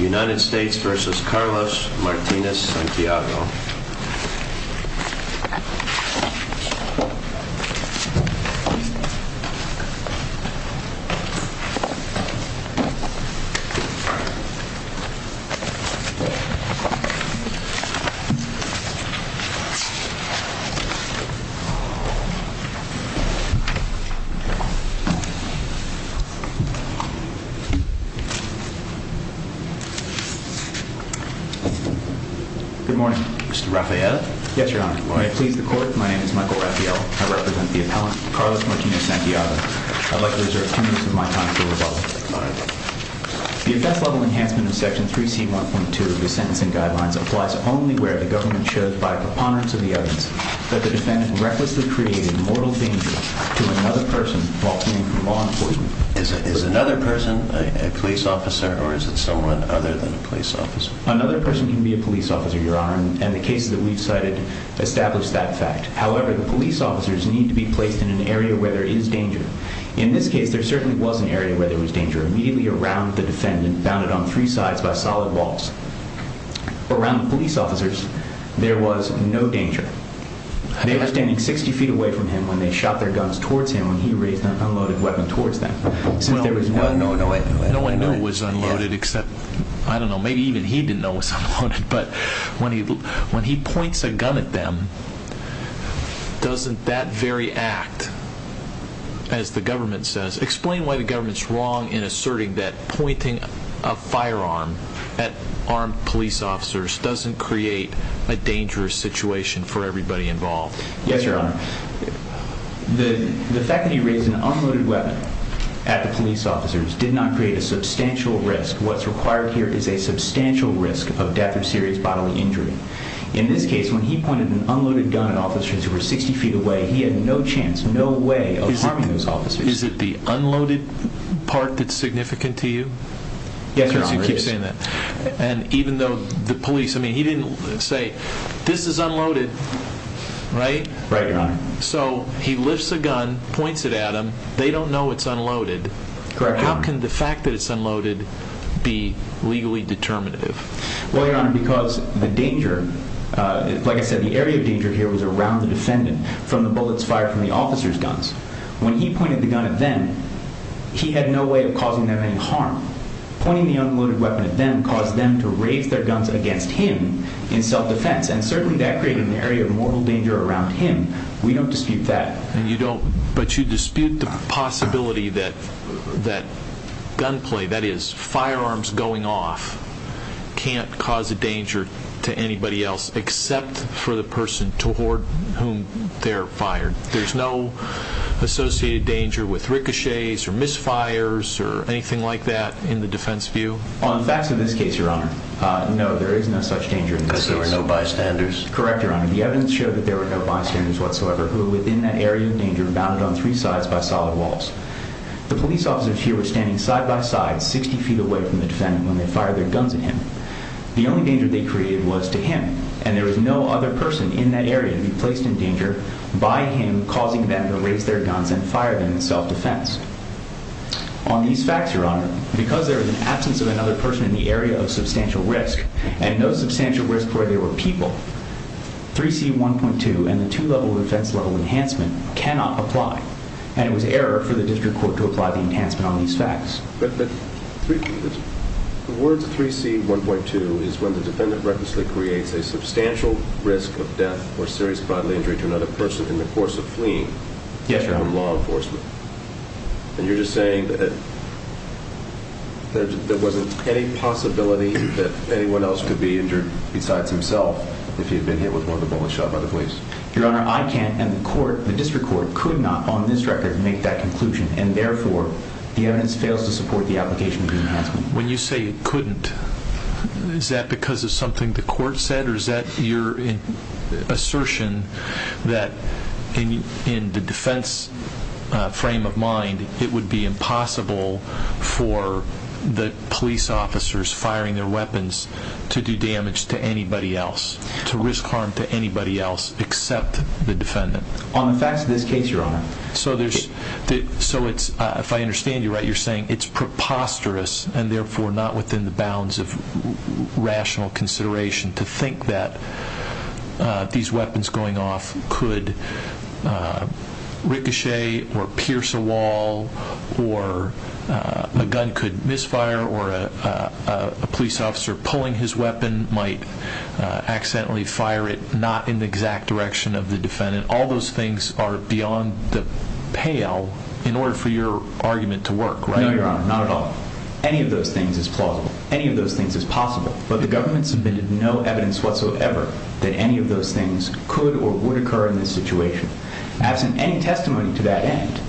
United States v. Carlos Martinez-Santiago Good morning. Mr. Rafael? Yes, Your Honor. May it please the Court, my name is Michael Rafael. I represent the appellant, Carlos Martinez-Santiago. I'd like to reserve two minutes of my time for rebuttal. The offense-level enhancement in Section 3C.1.2 of the Sentencing Guidelines applies only where the government should, by preponderance of the evidence, that the defendant recklessly created mortal danger to another person while fleeing from law enforcement. Is another person a police officer, or is it someone other than a police officer? Another person can be a police officer, Your Honor, and the cases that we've cited establish that fact. However, the police officers need to be placed in an area where there is danger. In this case, there certainly was an area where there was danger, immediately around the defendant, bounded on three sides by solid walls. Around the police officers, there was no danger. They were standing 60 feet away from him when they shot their guns towards him when he raised an unloaded weapon towards them. Well, no one knew it was unloaded, except, I don't know, maybe even he didn't know it was unloaded, but when he points a gun at them, doesn't that very act, as the government says, explain why the government's wrong in asserting that pointing a firearm at armed police officers doesn't create a dangerous situation for everybody involved. Yes, Your Honor. The fact that he raised an unloaded weapon at the police officers did not create a substantial risk. What's required here is a substantial risk of death or serious bodily injury. In this case, when he pointed an unloaded gun at officers who were 60 feet away, he had no chance, no way of harming those officers. Is it the unloaded part that's significant to you? Yes, Your Honor, it is. And even though the police, I mean, he didn't say, this is unloaded, right? Right, Your Honor. So, he lifts a gun, points it at them, they don't know it's unloaded. Correct, Your Honor. How can the fact that it's unloaded be legally determinative? Well, Your Honor, because the danger, like I said, the area of danger here was around the defendant, from the bullets fired from the officers' guns. When he pointed the gun at them, he had no way of causing them any harm. Pointing the unloaded weapon at them caused them to raise their guns against him in self-defense, and certainly that created an area of mortal danger around him. We don't dispute that. And you don't, but you dispute the possibility that gunplay, that is, firearms going off, can't cause a danger to anybody else except for the person toward whom they're fired. There's no associated danger with ricochets or misfires or anything like that in the defense view? On the facts of this case, Your Honor, no, there is no such danger in this case. Because there were no bystanders? Correct, Your Honor. The evidence showed that there were no bystanders whatsoever who were within that area of danger, bounded on three sides by solid walls. The police officers here were standing side by side, 60 feet away from the defendant when they fired their guns at him. The only danger they created was to him, and there was no other person in that area to be placed in danger by him causing them to raise their guns and fire them in self-defense. On these facts, Your Honor, because there was an absence of another person in the area of substantial risk, and no substantial risk where there were people, 3C1.2 and the two-level defense level enhancement cannot apply, and it was error for the district court to apply the enhancement on these facts. But the words 3C1.2 is when the defendant recklessly creates a substantial risk of death or serious bodily injury to another person in the course of fleeing from law enforcement. Yes, Your Honor. And you're just saying that there wasn't any possibility that anyone else could be injured besides himself if he had been hit with one of the bullets shot by the police? Your Honor, I can't, and the district court could not, on this record, make that conclusion. And therefore, the evidence fails to support the application of the enhancement. When you say it couldn't, is that because of something the court said, or is that your assertion that in the defense frame of mind, it would be impossible for the police officers firing their weapons to do damage to anybody else, to risk harm to anybody else except the defendant? On the facts of this case, Your Honor. So if I understand you right, you're saying it's preposterous and therefore not within the bounds of rational consideration to think that these weapons going off could ricochet or pierce a wall, or a gun could misfire, or a police officer pulling his weapon might accidentally fire it not in the exact direction of the defendant. And all those things are beyond the pale in order for your argument to work, right? No, Your Honor, not at all. Any of those things is plausible. Any of those things is possible. But the government submitted no evidence whatsoever that any of those things could or would occur in this situation. Absent any testimony to that end,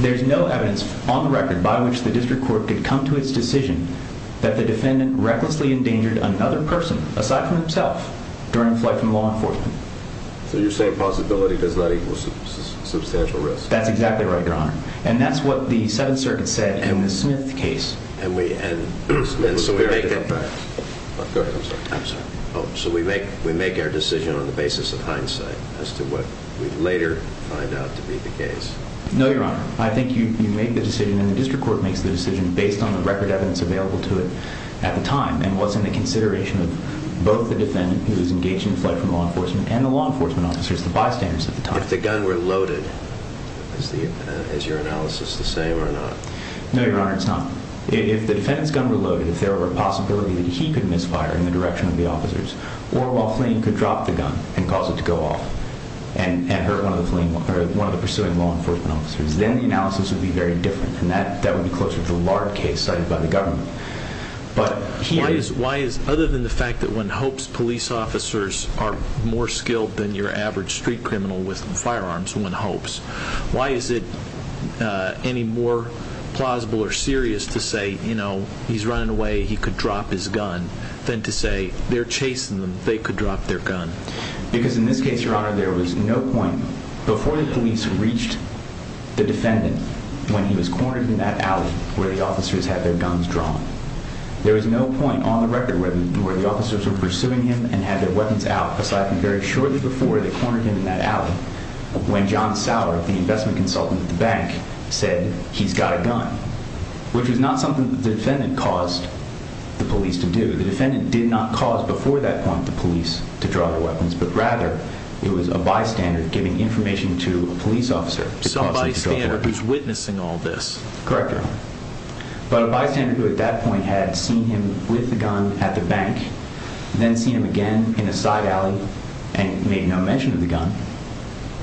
there's no evidence on the record by which the district court could come to its decision that the defendant recklessly endangered another person aside from himself during a flight from law enforcement. So you're saying possibility does not equal substantial risk? That's exactly right, Your Honor. And that's what the Seventh Circuit said in the Smith case. So we make our decision on the basis of hindsight as to what we later find out to be the case. No, Your Honor. I think you make the decision and the district court makes the decision based on the record evidence available to it at the time and what's in the consideration of both the defendant who was engaged in a flight from law enforcement and the law enforcement officers, the bystanders at the time. If the gun were loaded, is your analysis the same or not? No, Your Honor, it's not. If the defendant's gun were loaded, if there were a possibility that he could misfire in the direction of the officers or while fleeing could drop the gun and cause it to go off and hurt one of the pursuing law enforcement officers, then the analysis would be very different, and that would be closer to the large case cited by the government. Why is, other than the fact that when Hopes police officers are more skilled than your average street criminal with firearms, when Hopes, why is it any more plausible or serious to say, you know, he's running away, he could drop his gun, than to say they're chasing them, they could drop their gun? Because in this case, Your Honor, there was no point before the police reached the defendant when he was cornered in that alley where the officers had their guns drawn. There was no point on the record where the officers were pursuing him and had their weapons out, aside from very shortly before they cornered him in that alley, when John Sauer, the investment consultant at the bank, said, he's got a gun, which was not something that the defendant caused the police to do. The defendant did not cause, before that point, the police to draw their weapons, but rather, it was a bystander giving information to a police officer. So a bystander who's witnessing all this. Correct, Your Honor. But a bystander who, at that point, had seen him with a gun at the bank, then seen him again in a side alley, and made no mention of the gun,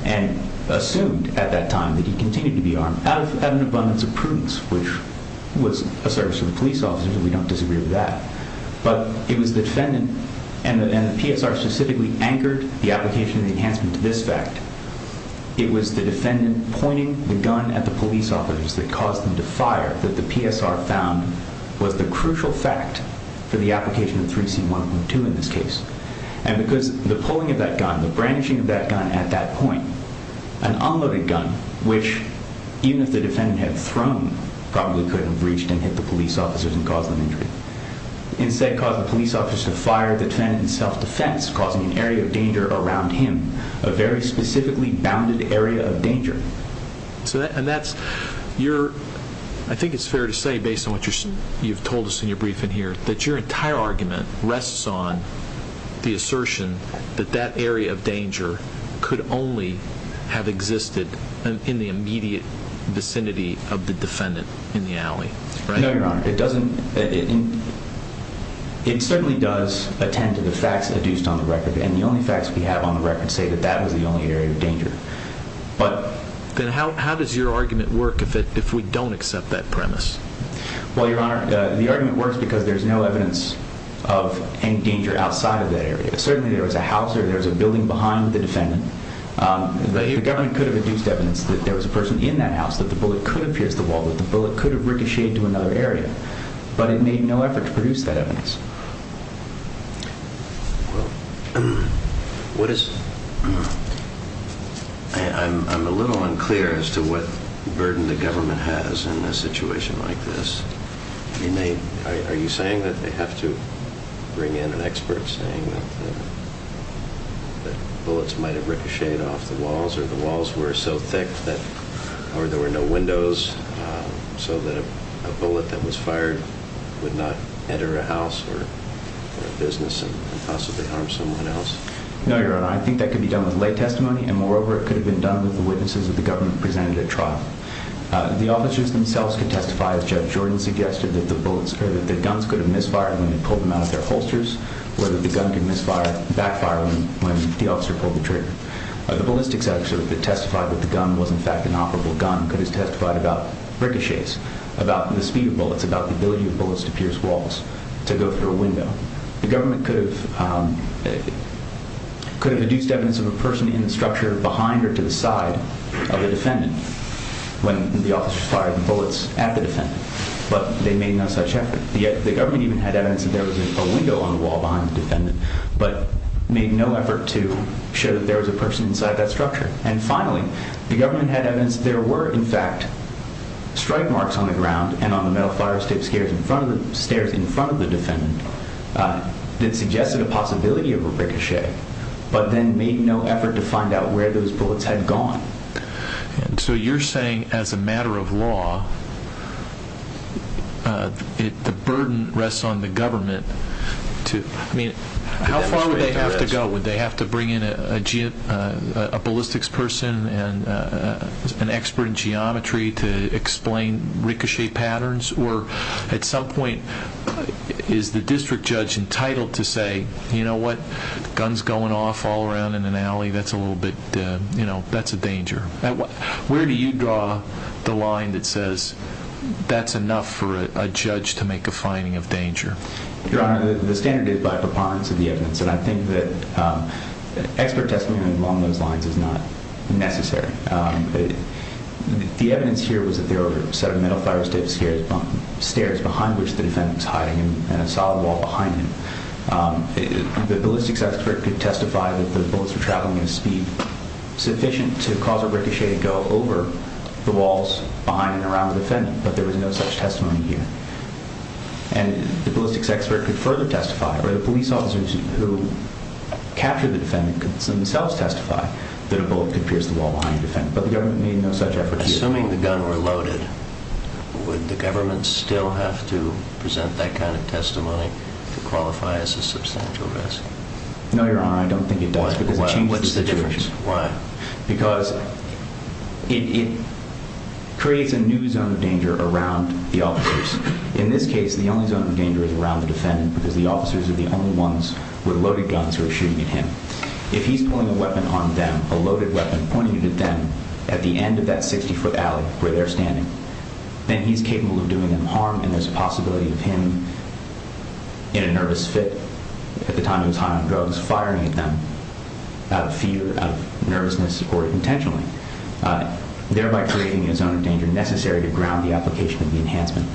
and assumed, at that time, that he continued to be armed, out of an abundance of prudence, which was a service to the police officers, and we don't disagree with that. But it was the defendant, and the PSR specifically anchored the application of the enhancement to this fact, it was the defendant pointing the gun at the police officers that caused them to fire, that the PSR found was the crucial fact for the application of 3C1.2 in this case. And because the pulling of that gun, the brandishing of that gun at that point, an unloaded gun, which, even if the defendant had thrown, probably could have reached and hit the police officers and caused them injury, instead caused the police officers to fire the defendant in self-defense, causing an area of danger around him, a very specifically bounded area of danger. And that's your... I think it's fair to say, based on what you've told us in your briefing here, that your entire argument rests on the assertion that that area of danger could only have existed in the immediate vicinity of the defendant in the alley, right? No, Your Honor, it doesn't... It certainly does attend to the facts adduced on the record, and the only facts we have on the record say that that was the only area of danger. But... Then how does your argument work if we don't accept that premise? Well, Your Honor, the argument works because there's no evidence of any danger outside of that area. Certainly, there was a house there, there was a building behind the defendant. The government could have induced evidence that there was a person in that house, that the bullet could have pierced the wall, that the bullet could have ricocheted to another area. But it made no effort to produce that evidence. Well, what is... I'm a little unclear as to what burden the government has in a situation like this. I mean, are you saying that they have to bring in an expert saying that bullets might have ricocheted off the walls, or the walls were so thick that... Or there were no windows, so that a bullet that was fired would not enter a house, or a business, and possibly harm someone else? No, Your Honor. I think that could be done with lay testimony, and moreover, it could have been done with the witnesses that the government presented at trial. The officers themselves could testify, as Judge Jordan suggested, that the guns could have misfired when they pulled them out of their holsters, or that the gun could backfire when the officer pulled the trigger. The ballistics officer that testified that the gun was, in fact, an operable gun could have testified about ricochets, about the speed of bullets, about the ability of bullets to pierce walls, to go through a window. The government could have... could have deduced evidence of a person in the structure behind or to the side of the defendant when the officers fired the bullets at the defendant, but they made no such effort. The government even had evidence that there was a window on the wall behind the defendant, but made no effort to show that there was a person inside that structure. And finally, the government had evidence that there were, in fact, strike marks on the ground and on the metal fire escape stairs in front of the defendant that suggested a possibility of a ricochet, but then made no effort to find out where those bullets had gone. And so you're saying, as a matter of law, the burden rests on the government to... I mean, how far would they have to go? Would they have to bring in a ballistics person and an expert in geometry to explain ricochet patterns? Or at some point, is the district judge entitled to say, you know what? Guns going off all around in an alley, that's a little bit, you know, that's a danger. Where do you draw the line that says that's enough for a judge to make a finding of danger? Your Honor, the standard is by preponderance of the evidence, and I think that expert testimony along those lines is not necessary. The evidence here was that there were a set of metal fire escape stairs behind which the defendant was hiding and a solid wall behind him. The ballistics expert could testify that the bullets were traveling at a speed sufficient to cause a ricochet to go over the walls behind and around the defendant, but there was no such testimony here. And the ballistics expert could further testify, or the police officers who captured the defendant could themselves testify that a bullet could pierce the wall behind the defendant, but the government made no such effort here. Assuming the gun were loaded, would the government still have to present that kind of testimony to qualify as a substantial risk? No, Your Honor, I don't think it does, because it changes the situation. Why? What's the difference? Why? Because it creates a new zone of danger around the officers. In this case, the only zone of danger is around the defendant because the officers are the only ones with loaded guns who are shooting at him. If he's pulling a weapon on them, a loaded weapon, pointing it at them at the end of that 60-foot alley where they're standing, then he's capable of doing them harm, and there's a possibility of him, in a nervous fit, at the time he was high on drugs, firing at them out of fear, out of nervousness or intentionally, thereby creating a zone of danger necessary to ground the application of the enhancement.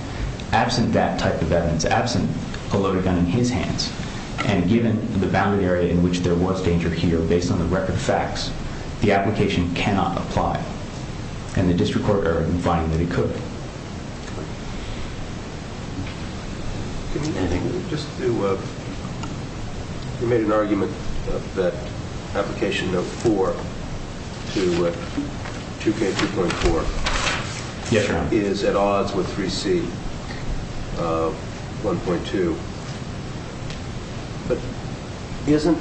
Absent that type of evidence, absent a loaded gun in his hands, and given the boundary area in which there was danger here based on the record of facts, the application cannot apply, and the district court argued in finding that it could. Just to... You made an argument that application note 4 to 2K2.4... Yes, Your Honor. ...is at odds with 3C1.2, but isn't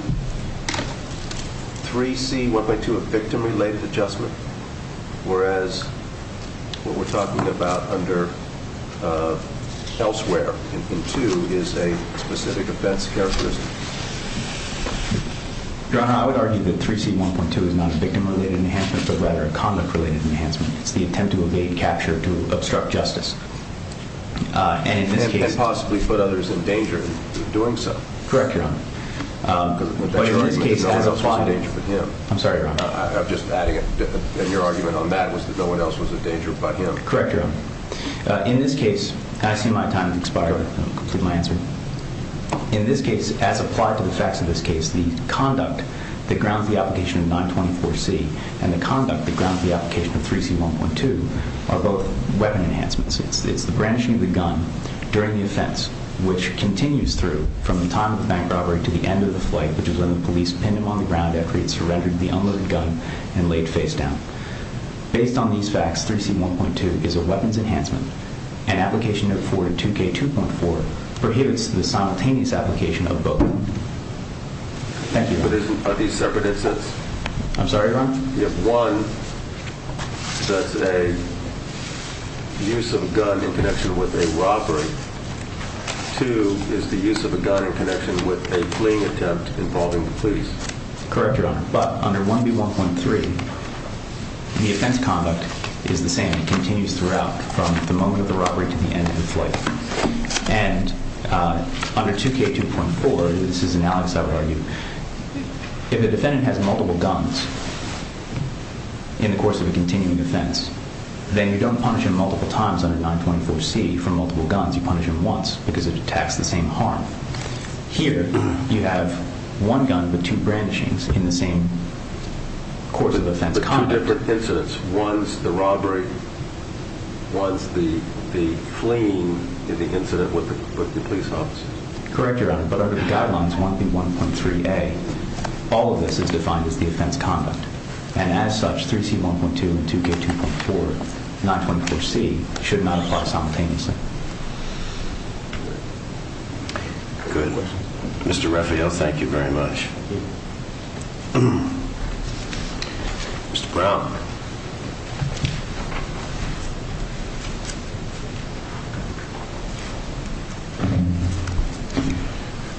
3C1.2 a victim-related adjustment, whereas what we're talking about under elsewhere in 2 is a specific offense characteristic? Your Honor, I would argue that 3C1.2 is not a victim-related enhancement, but rather a conduct-related enhancement. It's the attempt to evade capture, to obstruct justice. And in this case... And possibly put others in danger of doing so. Correct, Your Honor. But in this case, as applied... I'm sorry, Your Honor. I'm just adding that your argument on that was that no one else was in danger but him. Correct, Your Honor. In this case, I see my time has expired. I'll complete my answer. In this case, as applied to the facts of this case, the conduct that grounds the application of 924C and the conduct that grounds the application of 3C1.2 are both weapon enhancements. It's the brandishing of the gun during the offense, which continues through from the time of the bank robbery to the end of the flight, which is when the police pinned him on the ground after he had surrendered the unloaded gun and laid face down. Based on these facts, 3C1.2 is a weapons enhancement. An application of 422K2.4 prohibits the simultaneous application of both. Thank you, Your Honor. But are these separate instances? I'm sorry, Your Honor? You have one that's a use of a gun in connection with a robbery. Two is the use of a gun in connection with a fleeing attempt involving the police. Correct, Your Honor. But under 1B1.3, the offense conduct is the same. It continues throughout from the moment of the robbery to the end of the flight. And under 2K2.4, this is analogous, I would argue, if the defendant has multiple guns in the course of a continuing offense, then you don't punish him multiple times under 924C for multiple guns. You punish him once because it attacks the same harm. Here, you have one gun but two brandishings in the same course of offense conduct. But two different incidents. One's the robbery. One's the fleeing in the incident with the police officer. Correct, Your Honor. But under the guidelines 1B1.3A, all of this is defined as the offense conduct. And as such, 3C1.2 and 2K2.4, 924C, should not apply simultaneously. Good. Mr. Refio, thank you very much. Mr. Brown.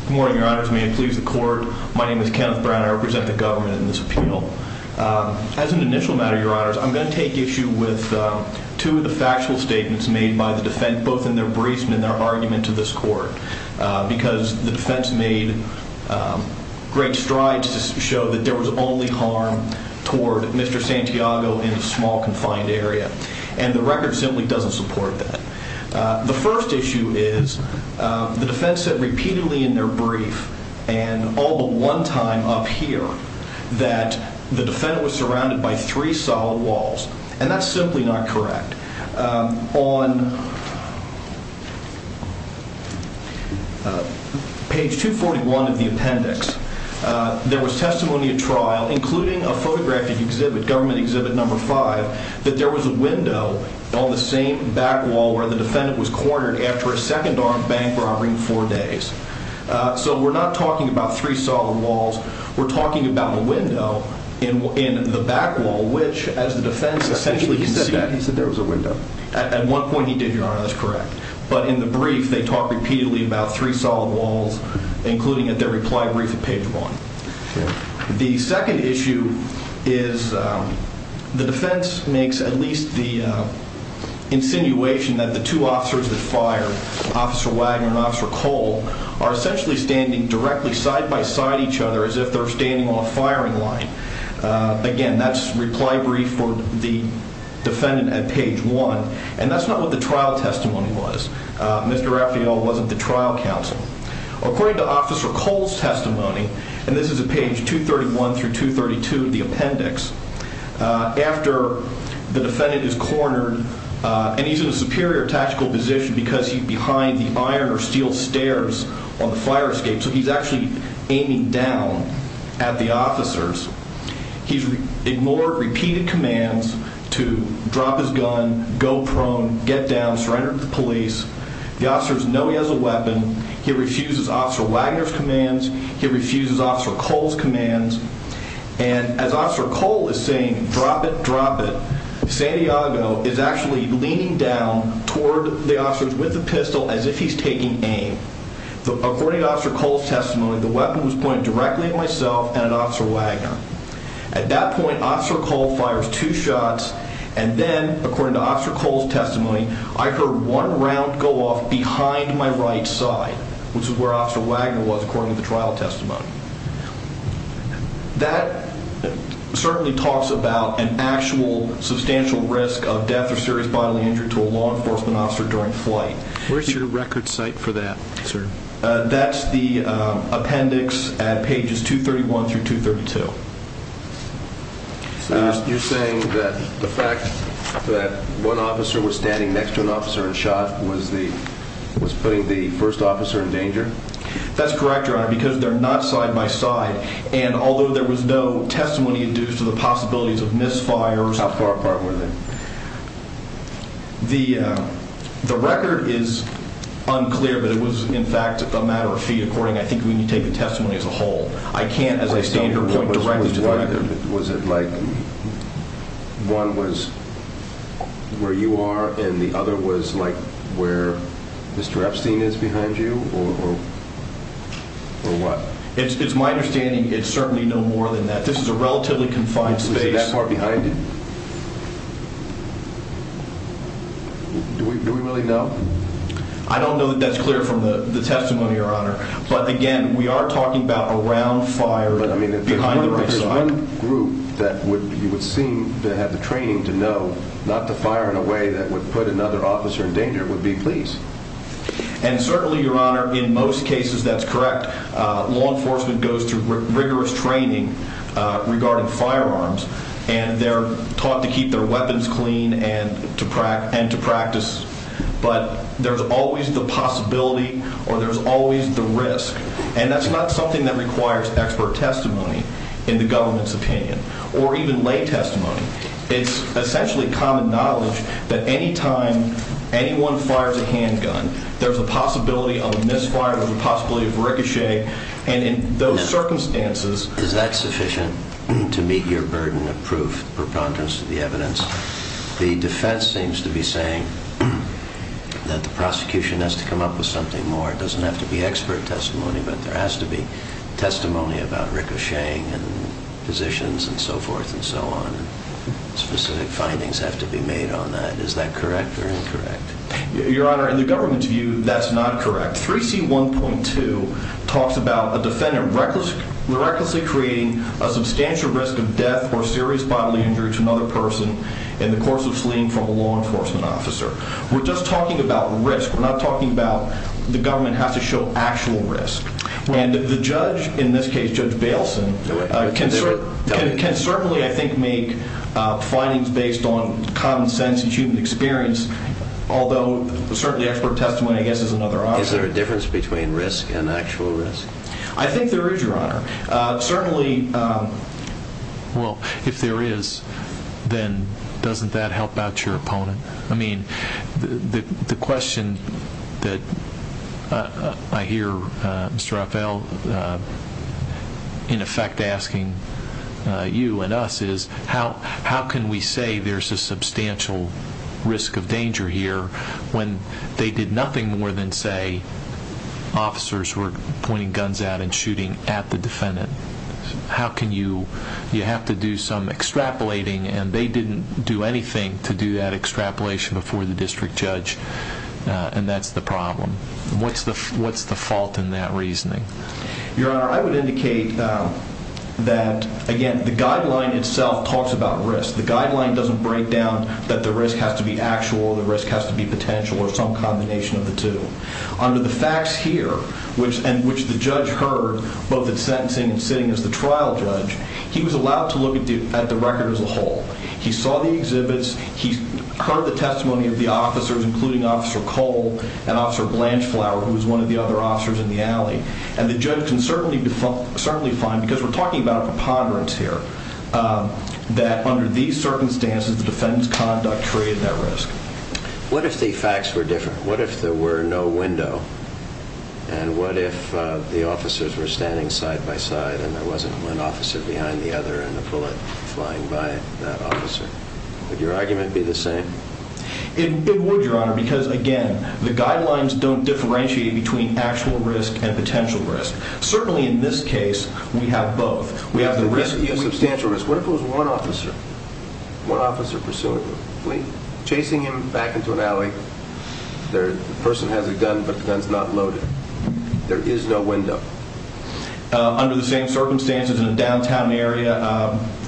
Good morning, Your Honors. May it please the court. My name is Kenneth Brown. I represent the government in this appeal. As an initial matter, Your Honors, I'm going to take issue with two of the factual statements made by the defense, both in their briefs and in their argument to this court, because the defense made great strides to show that there was only harm toward Mr. Santiago in a small, confined area. And the record simply doesn't support that. The first issue is the defense said repeatedly in their brief and all but one time up here that the defendant was surrounded by three solid walls. And that's simply not correct. On page 241 of the appendix, there was testimony at trial, including a photographic exhibit, government exhibit number five, that there was a window on the same back wall where the defendant was cornered after a second-arm bank robbery in four days. So we're not talking about three solid walls. We're talking about a window in the back wall, which, as the defense essentially conceived... He said there was a window. At one point he did, Your Honor. That's correct. But in the brief, they talk repeatedly about three solid walls, including at their reply brief at page one. The second issue is the defense makes at least the insinuation that the two officers that fired, Officer Wagner and Officer Cole, are essentially standing directly side-by-side each other as if they're standing on a firing line. Again, that's reply brief for the defendant at page one. And that's not what the trial testimony was. Mr. Raffio wasn't the trial counsel. According to Officer Cole's testimony, and this is at page 231 through 232 of the appendix, after the defendant is cornered and he's in a superior tactical position because he's behind the iron or steel stairs on the fire escape. So he's actually aiming down at the officers. He's ignored repeated commands to drop his gun, go prone, get down, surrender to the police. The officers know he has a weapon. He refuses Officer Wagner's commands. He refuses Officer Cole's commands. And as Officer Cole is saying, drop it, drop it, Santiago is actually leaning down toward the officers with the pistol as if he's taking aim. According to Officer Cole's testimony, the weapon was pointed directly at myself and at Officer Wagner. At that point, Officer Cole fires two shots, and then, according to Officer Cole's testimony, I heard one round go off behind my right side, which is where Officer Wagner was according to the trial testimony. That certainly talks about an actual substantial risk of death or serious bodily injury to a law enforcement officer during flight. Where's your record cite for that, sir? That's the appendix at pages 231 through 232. So you're saying that the fact that one officer was standing next to an officer and shot was putting the first officer in danger? That's correct, Your Honor, because they're not side by side. And although there was no testimony due to the possibilities of misfires... How far apart were they? The record is unclear, but it was, in fact, a matter of feet. According, I think we need to take the testimony as a whole. I can't, as I stand here, point directly to the record. Was it like one was where you are and the other was like where Mr. Epstein is behind you or what? It's my understanding it's certainly no more than that. This is a relatively confined space. Was it that far behind you? Do we really know? I don't know that that's clear from the testimony, Your Honor. But, again, we are talking about around fire behind the right side. If there's one group that you would seem to have the training to know not to fire in a way that would put another officer in danger, it would be police. And certainly, Your Honor, in most cases that's correct. Law enforcement goes through rigorous training regarding firearms and they're taught to keep their weapons clean and to practice. But there's always the possibility or there's always the risk. And that's not something that requires expert testimony in the government's opinion or even lay testimony. It's essentially common knowledge that any time anyone fires a handgun, there's a possibility of a misfire, there's a possibility of ricochet. And in those circumstances... Is that sufficient to meet your burden of proof preponderance of the evidence? The defense seems to be saying that the prosecution has to come up with something more. It doesn't have to be expert testimony, but there has to be testimony about ricocheting and positions and so forth and so on. Specific findings have to be made on that. Is that correct or incorrect? Your Honor, in the government's view, that's not correct. 3C1.2 talks about a defendant recklessly creating a substantial risk of death or serious bodily injury to another person in the course of fleeing from a law enforcement officer. We're just talking about risk. We're not talking about the government has to show actual risk. And the judge, in this case Judge Bailson, can certainly, I think, make findings based on common sense and human experience, although certainly expert testimony, I guess, is another option. Is there a difference between risk and actual risk? I think there is, Your Honor. Certainly... Well, if there is, then doesn't that help out your opponent? I mean, the question that I hear Mr. Raffaele, in effect, asking you and us, is how can we say there's a substantial risk of danger here when they did nothing more than say officers were pointing guns out and shooting at the defendant? How can you...you have to do some extrapolating, and they didn't do anything to do that extrapolation before the district judge, and that's the problem. What's the fault in that reasoning? Your Honor, I would indicate that, again, the guideline itself talks about risk. The guideline doesn't break down that the risk has to be actual, the risk has to be potential, or some combination of the two. Under the facts here, and which the judge heard, both at sentencing and sitting as the trial judge, he was allowed to look at the record as a whole. He saw the exhibits, he heard the testimony of the officers, including Officer Cole and Officer Blanchflower, who was one of the other officers in the alley. And the judge can certainly find, because we're talking about a preponderance here, that under these circumstances, the defendant's conduct created that risk. What if the facts were different? What if there were no window? And what if the officers were standing side by side and there wasn't one officer behind the other and a bullet flying by that officer? Would your argument be the same? It would, Your Honor, because, again, the guidelines don't differentiate between actual risk and potential risk. Certainly in this case, we have both. We have the risk, we have substantial risk. What if it was one officer? One officer pursuing, chasing him back into an alley. The person has a gun, but the gun's not loaded. There is no window. Under the same circumstances in a downtown area,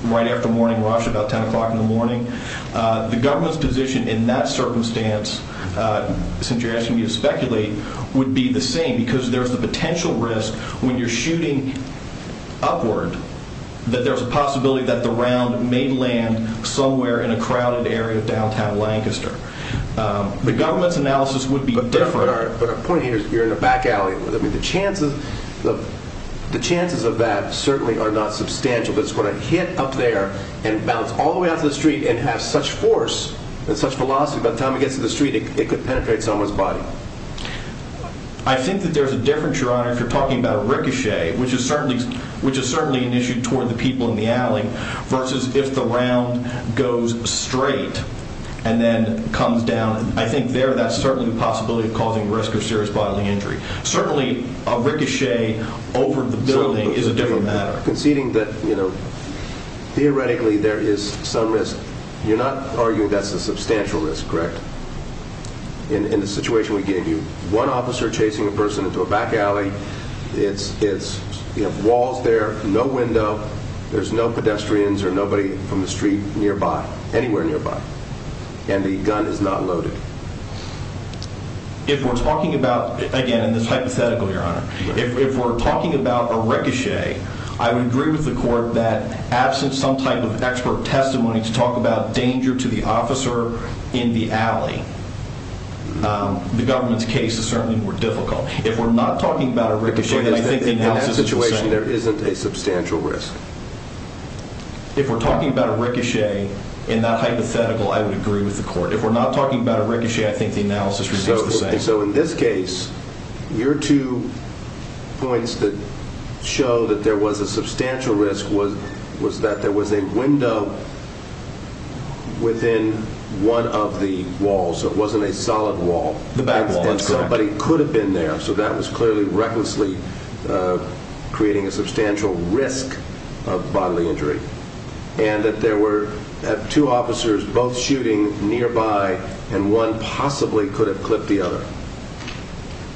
right after morning rush, about 10 o'clock in the morning, the government's position in that circumstance, since you're asking me to speculate, would be the same because there's the potential risk when you're shooting upward that there's a possibility that the round may land somewhere in a crowded area of downtown Lancaster. The government's analysis would be different. But our point here is you're in a back alley. The chances of that certainly are not substantial. It's going to hit up there and bounce all the way out to the street and have such force and such velocity, by the time it gets to the street, it could penetrate someone's body. I think that there's a difference, Your Honor, if you're talking about a ricochet, which is certainly an issue toward the people in the alley, versus if the round goes straight and then comes down. I think there that's certainly the possibility of causing risk of serious bodily injury. Certainly a ricochet over the building is a different matter. Conceding that theoretically there is some risk, you're not arguing that's a substantial risk, correct, in the situation we gave you? One officer chasing a person into a back alley, it's walls there, no window, there's no pedestrians or nobody from the street nearby, anywhere nearby, and the gun is not loaded. If we're talking about, again, this is hypothetical, Your Honor, if we're talking about a ricochet, I would agree with the court that absent some type of expert testimony to talk about danger to the officer in the alley, the government's case is certainly more difficult. If we're not talking about a ricochet, then I think the analysis is the same. In that situation, there isn't a substantial risk. If we're talking about a ricochet in that hypothetical, I would agree with the court. If we're not talking about a ricochet, I think the analysis is the same. In this case, your two points that show that there was a substantial risk was that there was a window within one of the walls, so it wasn't a solid wall. The back wall, that's correct. Somebody could have been there, so that was clearly recklessly creating a substantial risk of bodily injury, and that there were two officers both shooting nearby, and one possibly could have clipped the other.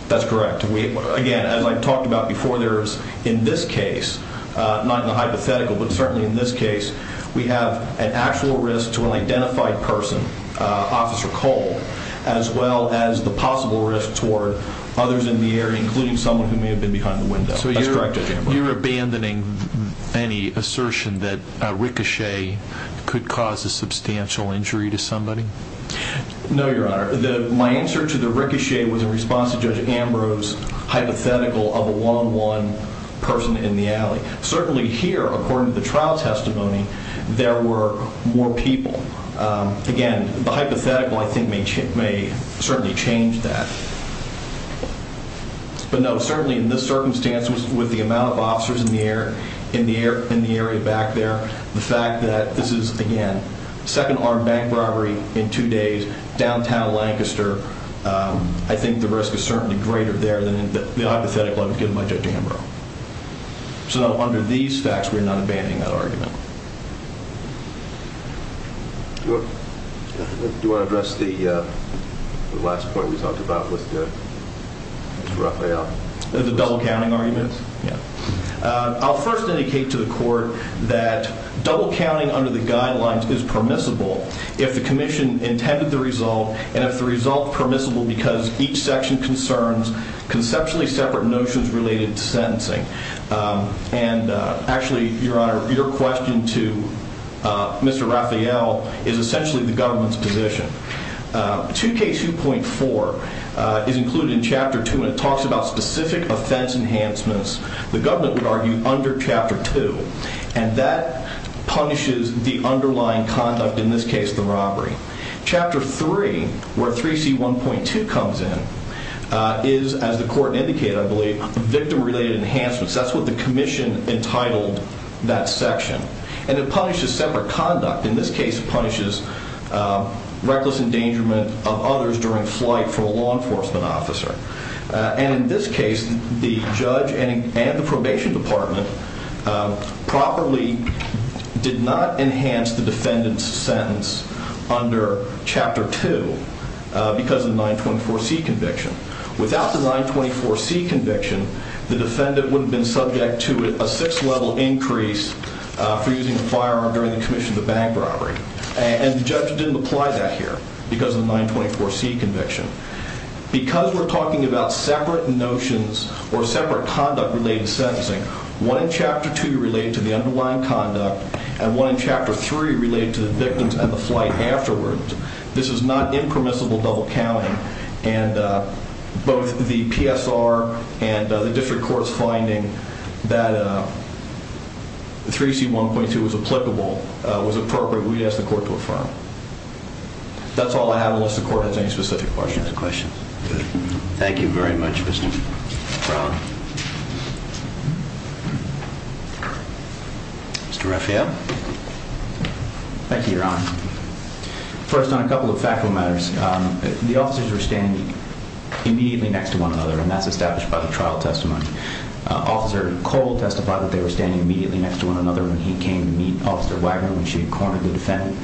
That's correct. Again, as I've talked about before, there is, in this case, not in the hypothetical, but certainly in this case, we have an actual risk to an identified person, Officer Cole, as well as the possible risk toward others in the area, including someone who may have been behind the window. That's correct, Judge Ambrose. You're abandoning any assertion that a ricochet could cause a substantial injury to somebody? No, Your Honor. My answer to the ricochet was in response to Judge Ambrose's hypothetical of a one-on-one person in the alley. Certainly here, according to the trial testimony, there were more people. Again, the hypothetical, I think, may certainly change that. But no, certainly in this circumstance, with the amount of officers in the area back there, the fact that this is, again, second armed bank robbery in two days, downtown Lancaster, I think the risk is certainly greater there than in the hypothetical I was given by Judge Ambrose. So under these facts, we're not abandoning that argument. Do you want to address the last point we talked about with Mr. Rafael? The double-counting argument? Yeah. I'll first indicate to the Court that double-counting under the guidelines is permissible if the Commission intended the result, and if the result is permissible And actually, Your Honor, your question to Mr. Rafael is essentially the government's position. 2K2.4 is included in Chapter 2, and it talks about specific offense enhancements the government would argue under Chapter 2, and that punishes the underlying conduct, in this case, the robbery. Chapter 3, where 3C1.2 comes in, is, as the Court indicated, I believe, that's what the Commission entitled that section. And it punishes separate conduct. In this case, it punishes reckless endangerment of others during flight for a law enforcement officer. And in this case, the judge and the probation department properly did not enhance the defendant's sentence under Chapter 2 because of the 924C conviction. Without the 924C conviction, the defendant would have been subject to a 6-level increase for using a firearm during the commission of the bank robbery. And the judge didn't apply that here because of the 924C conviction. Because we're talking about separate notions or separate conduct-related sentencing, one in Chapter 2 related to the underlying conduct, and one in Chapter 3 related to the victims and the flight afterwards, this is not impermissible double-counting. And both the PSR and the district court's finding that 3C1.2 was applicable was appropriate. We'd ask the Court to affirm. That's all I have, unless the Court has any specific questions. No questions. Good. Thank you very much, Mr. Brown. Mr. Refia? Thank you, Your Honor. First, on a couple of factual matters. The officers were standing immediately next to one another, and that's established by the trial testimony. Officer Cole testified that they were standing immediately next to one another when he came to meet Officer Wagner when she had cornered the defendant.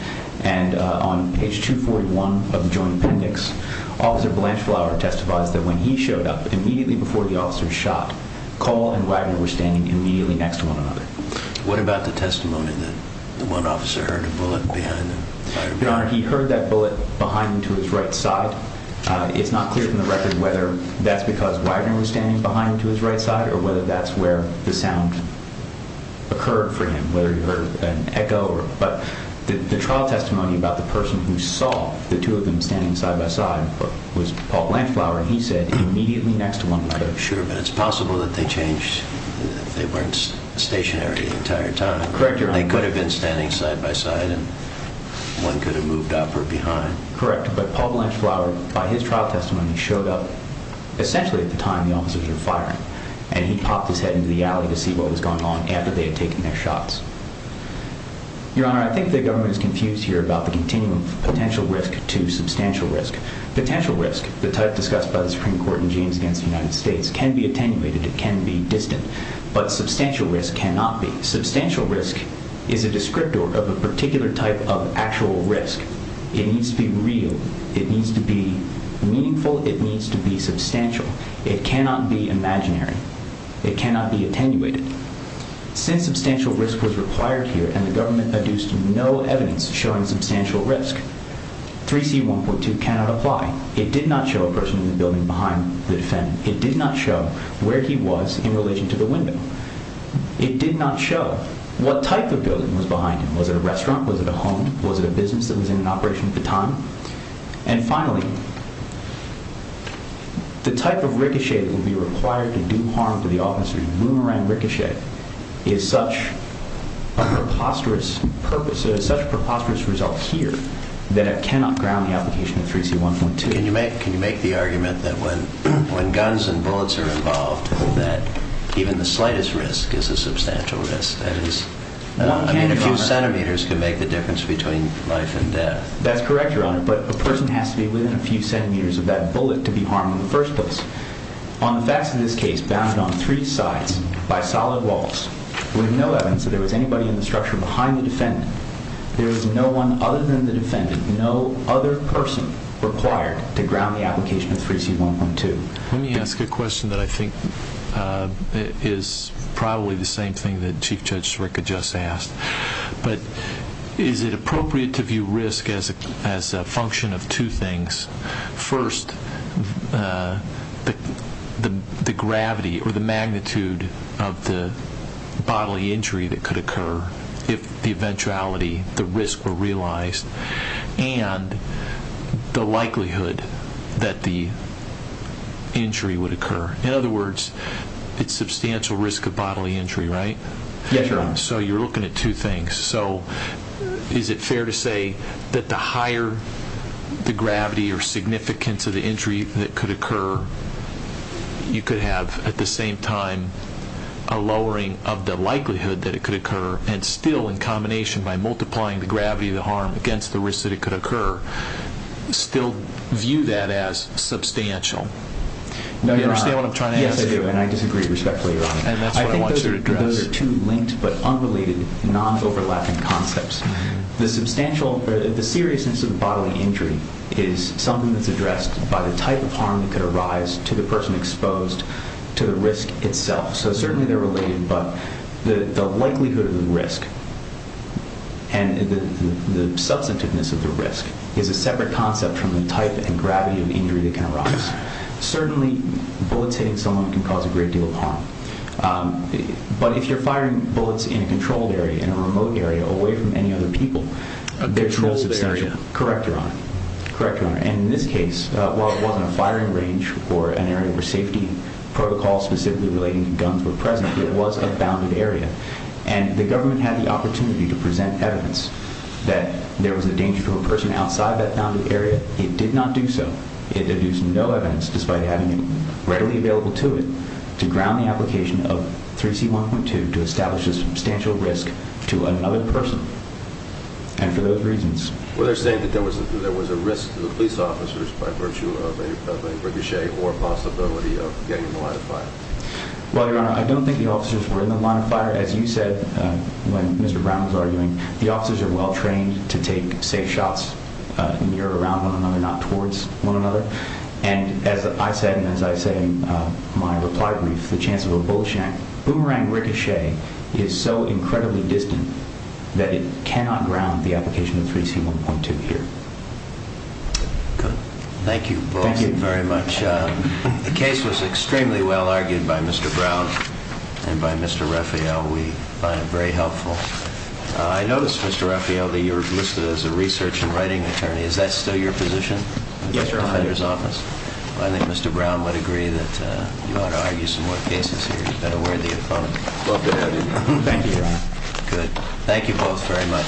And on page 241 of the Joint Appendix, Officer Blanchflower testified that when he showed up immediately before the officers shot, Cole and Wagner were standing immediately next to one another. What about the testimony that the one officer heard a bullet behind him? Your Honor, he heard that bullet behind him to his right side. It's not clear from the record whether that's because Wagner was standing behind him to his right side or whether that's where the sound occurred for him, whether he heard an echo. But the trial testimony about the person who saw the two of them standing side by side was Paul Blanchflower, and he said immediately next to one another. Sure, but it's possible that they changed. They weren't stationary the entire time. Correct, Your Honor. They could have been standing side by side, and one could have moved up or behind. Correct, but Paul Blanchflower, by his trial testimony, showed up essentially at the time the officers were firing, and he popped his head into the alley to see what was going on after they had taken their shots. Your Honor, I think the government is confused here about the continuum of potential risk to substantial risk. Potential risk, the type discussed by the Supreme Court in Jeans Against the United States, can be attenuated. It can be distant. But substantial risk cannot be. Substantial risk is a descriptor of a particular type of actual risk. It needs to be real. It needs to be meaningful. It needs to be substantial. It cannot be imaginary. It cannot be attenuated. Since substantial risk was required here and the government adduced no evidence showing substantial risk, 3C1.2 cannot apply. It did not show a person in the building behind the defendant. It did not show where he was in relation to the window. It did not show what type of building was behind him. Was it a restaurant? Was it a home? Was it a business that was in operation at the time? And finally, the type of ricochet that would be required to do harm to the officers, boomerang ricochet, is such a preposterous result here that it cannot ground the application of 3C1.2. Can you make the argument that when guns and bullets are involved, that even the slightest risk is a substantial risk? That is, a few centimeters can make the difference between life and death. That's correct, Your Honor, but a person has to be within a few centimeters of that bullet to be harmed in the first place. On the facts of this case, bound on three sides by solid walls with no evidence that there was anybody in the structure behind the defendant, there is no one other than the defendant, no other person required to ground the application of 3C1.2. Let me ask a question that I think is probably the same thing that Chief Judge Sirica just asked. Is it appropriate to view risk as a function of two things? First, the gravity or the magnitude of the bodily injury that could occur, if the eventuality, the risk were realized, and the likelihood that the injury would occur. In other words, it's substantial risk of bodily injury, right? Yes, Your Honor. So you're looking at two things. Is it fair to say that the higher the gravity or significance of the injury that could occur, you could have at the same time a lowering of the likelihood that it could occur, and still in combination by multiplying the gravity of the harm against the risk that it could occur, still view that as substantial? No, Your Honor. Do you understand what I'm trying to ask? Yes, I do, and I disagree respectfully, Your Honor. And that's what I want you to address. I think those are two linked but unrelated, non-overlapping concepts. The seriousness of the bodily injury is something that's addressed by the type of harm that could arise to the person exposed to the risk itself. So certainly they're related, but the likelihood of the risk and the substantiveness of the risk is a separate concept from the type and gravity of injury that can arise. Certainly, bullets hitting someone can cause a great deal of harm. But if you're firing bullets in a controlled area, in a remote area, away from any other people, there's no substantial corrector on it. And in this case, while it wasn't a firing range or an area where safety protocols specifically relating to guns were present, it was a bounded area. And the government had the opportunity to present evidence that there was a danger to a person outside that bounded area. It did not do so. It deduced no evidence, despite having it readily available to it, to ground the application of 3C1.2 to establish a substantial risk to another person. And for those reasons... Well, they're saying that there was a risk to the police officers by virtue of a ricochet or possibility of getting in the line of fire. Well, Your Honor, I don't think the officers were in the line of fire. As you said when Mr. Brown was arguing, the officers are well-trained to take safe shots and mirror around one another, not towards one another. And as I said in my reply brief, the chance of a bullet shank, boomerang ricochet, is so incredibly distant that it cannot ground the application of 3C1.2 here. Good. Thank you both very much. The case was extremely well argued by Mr. Brown and by Mr. Raphael. We find it very helpful. I notice, Mr. Raphael, that you're listed as a research and writing attorney. Is that still your position? Yes, Your Honor. I think Mr. Brown would agree that you ought to argue some more cases here. You've been a worthy opponent. Thank you, Your Honor. Good. Thank you both very much.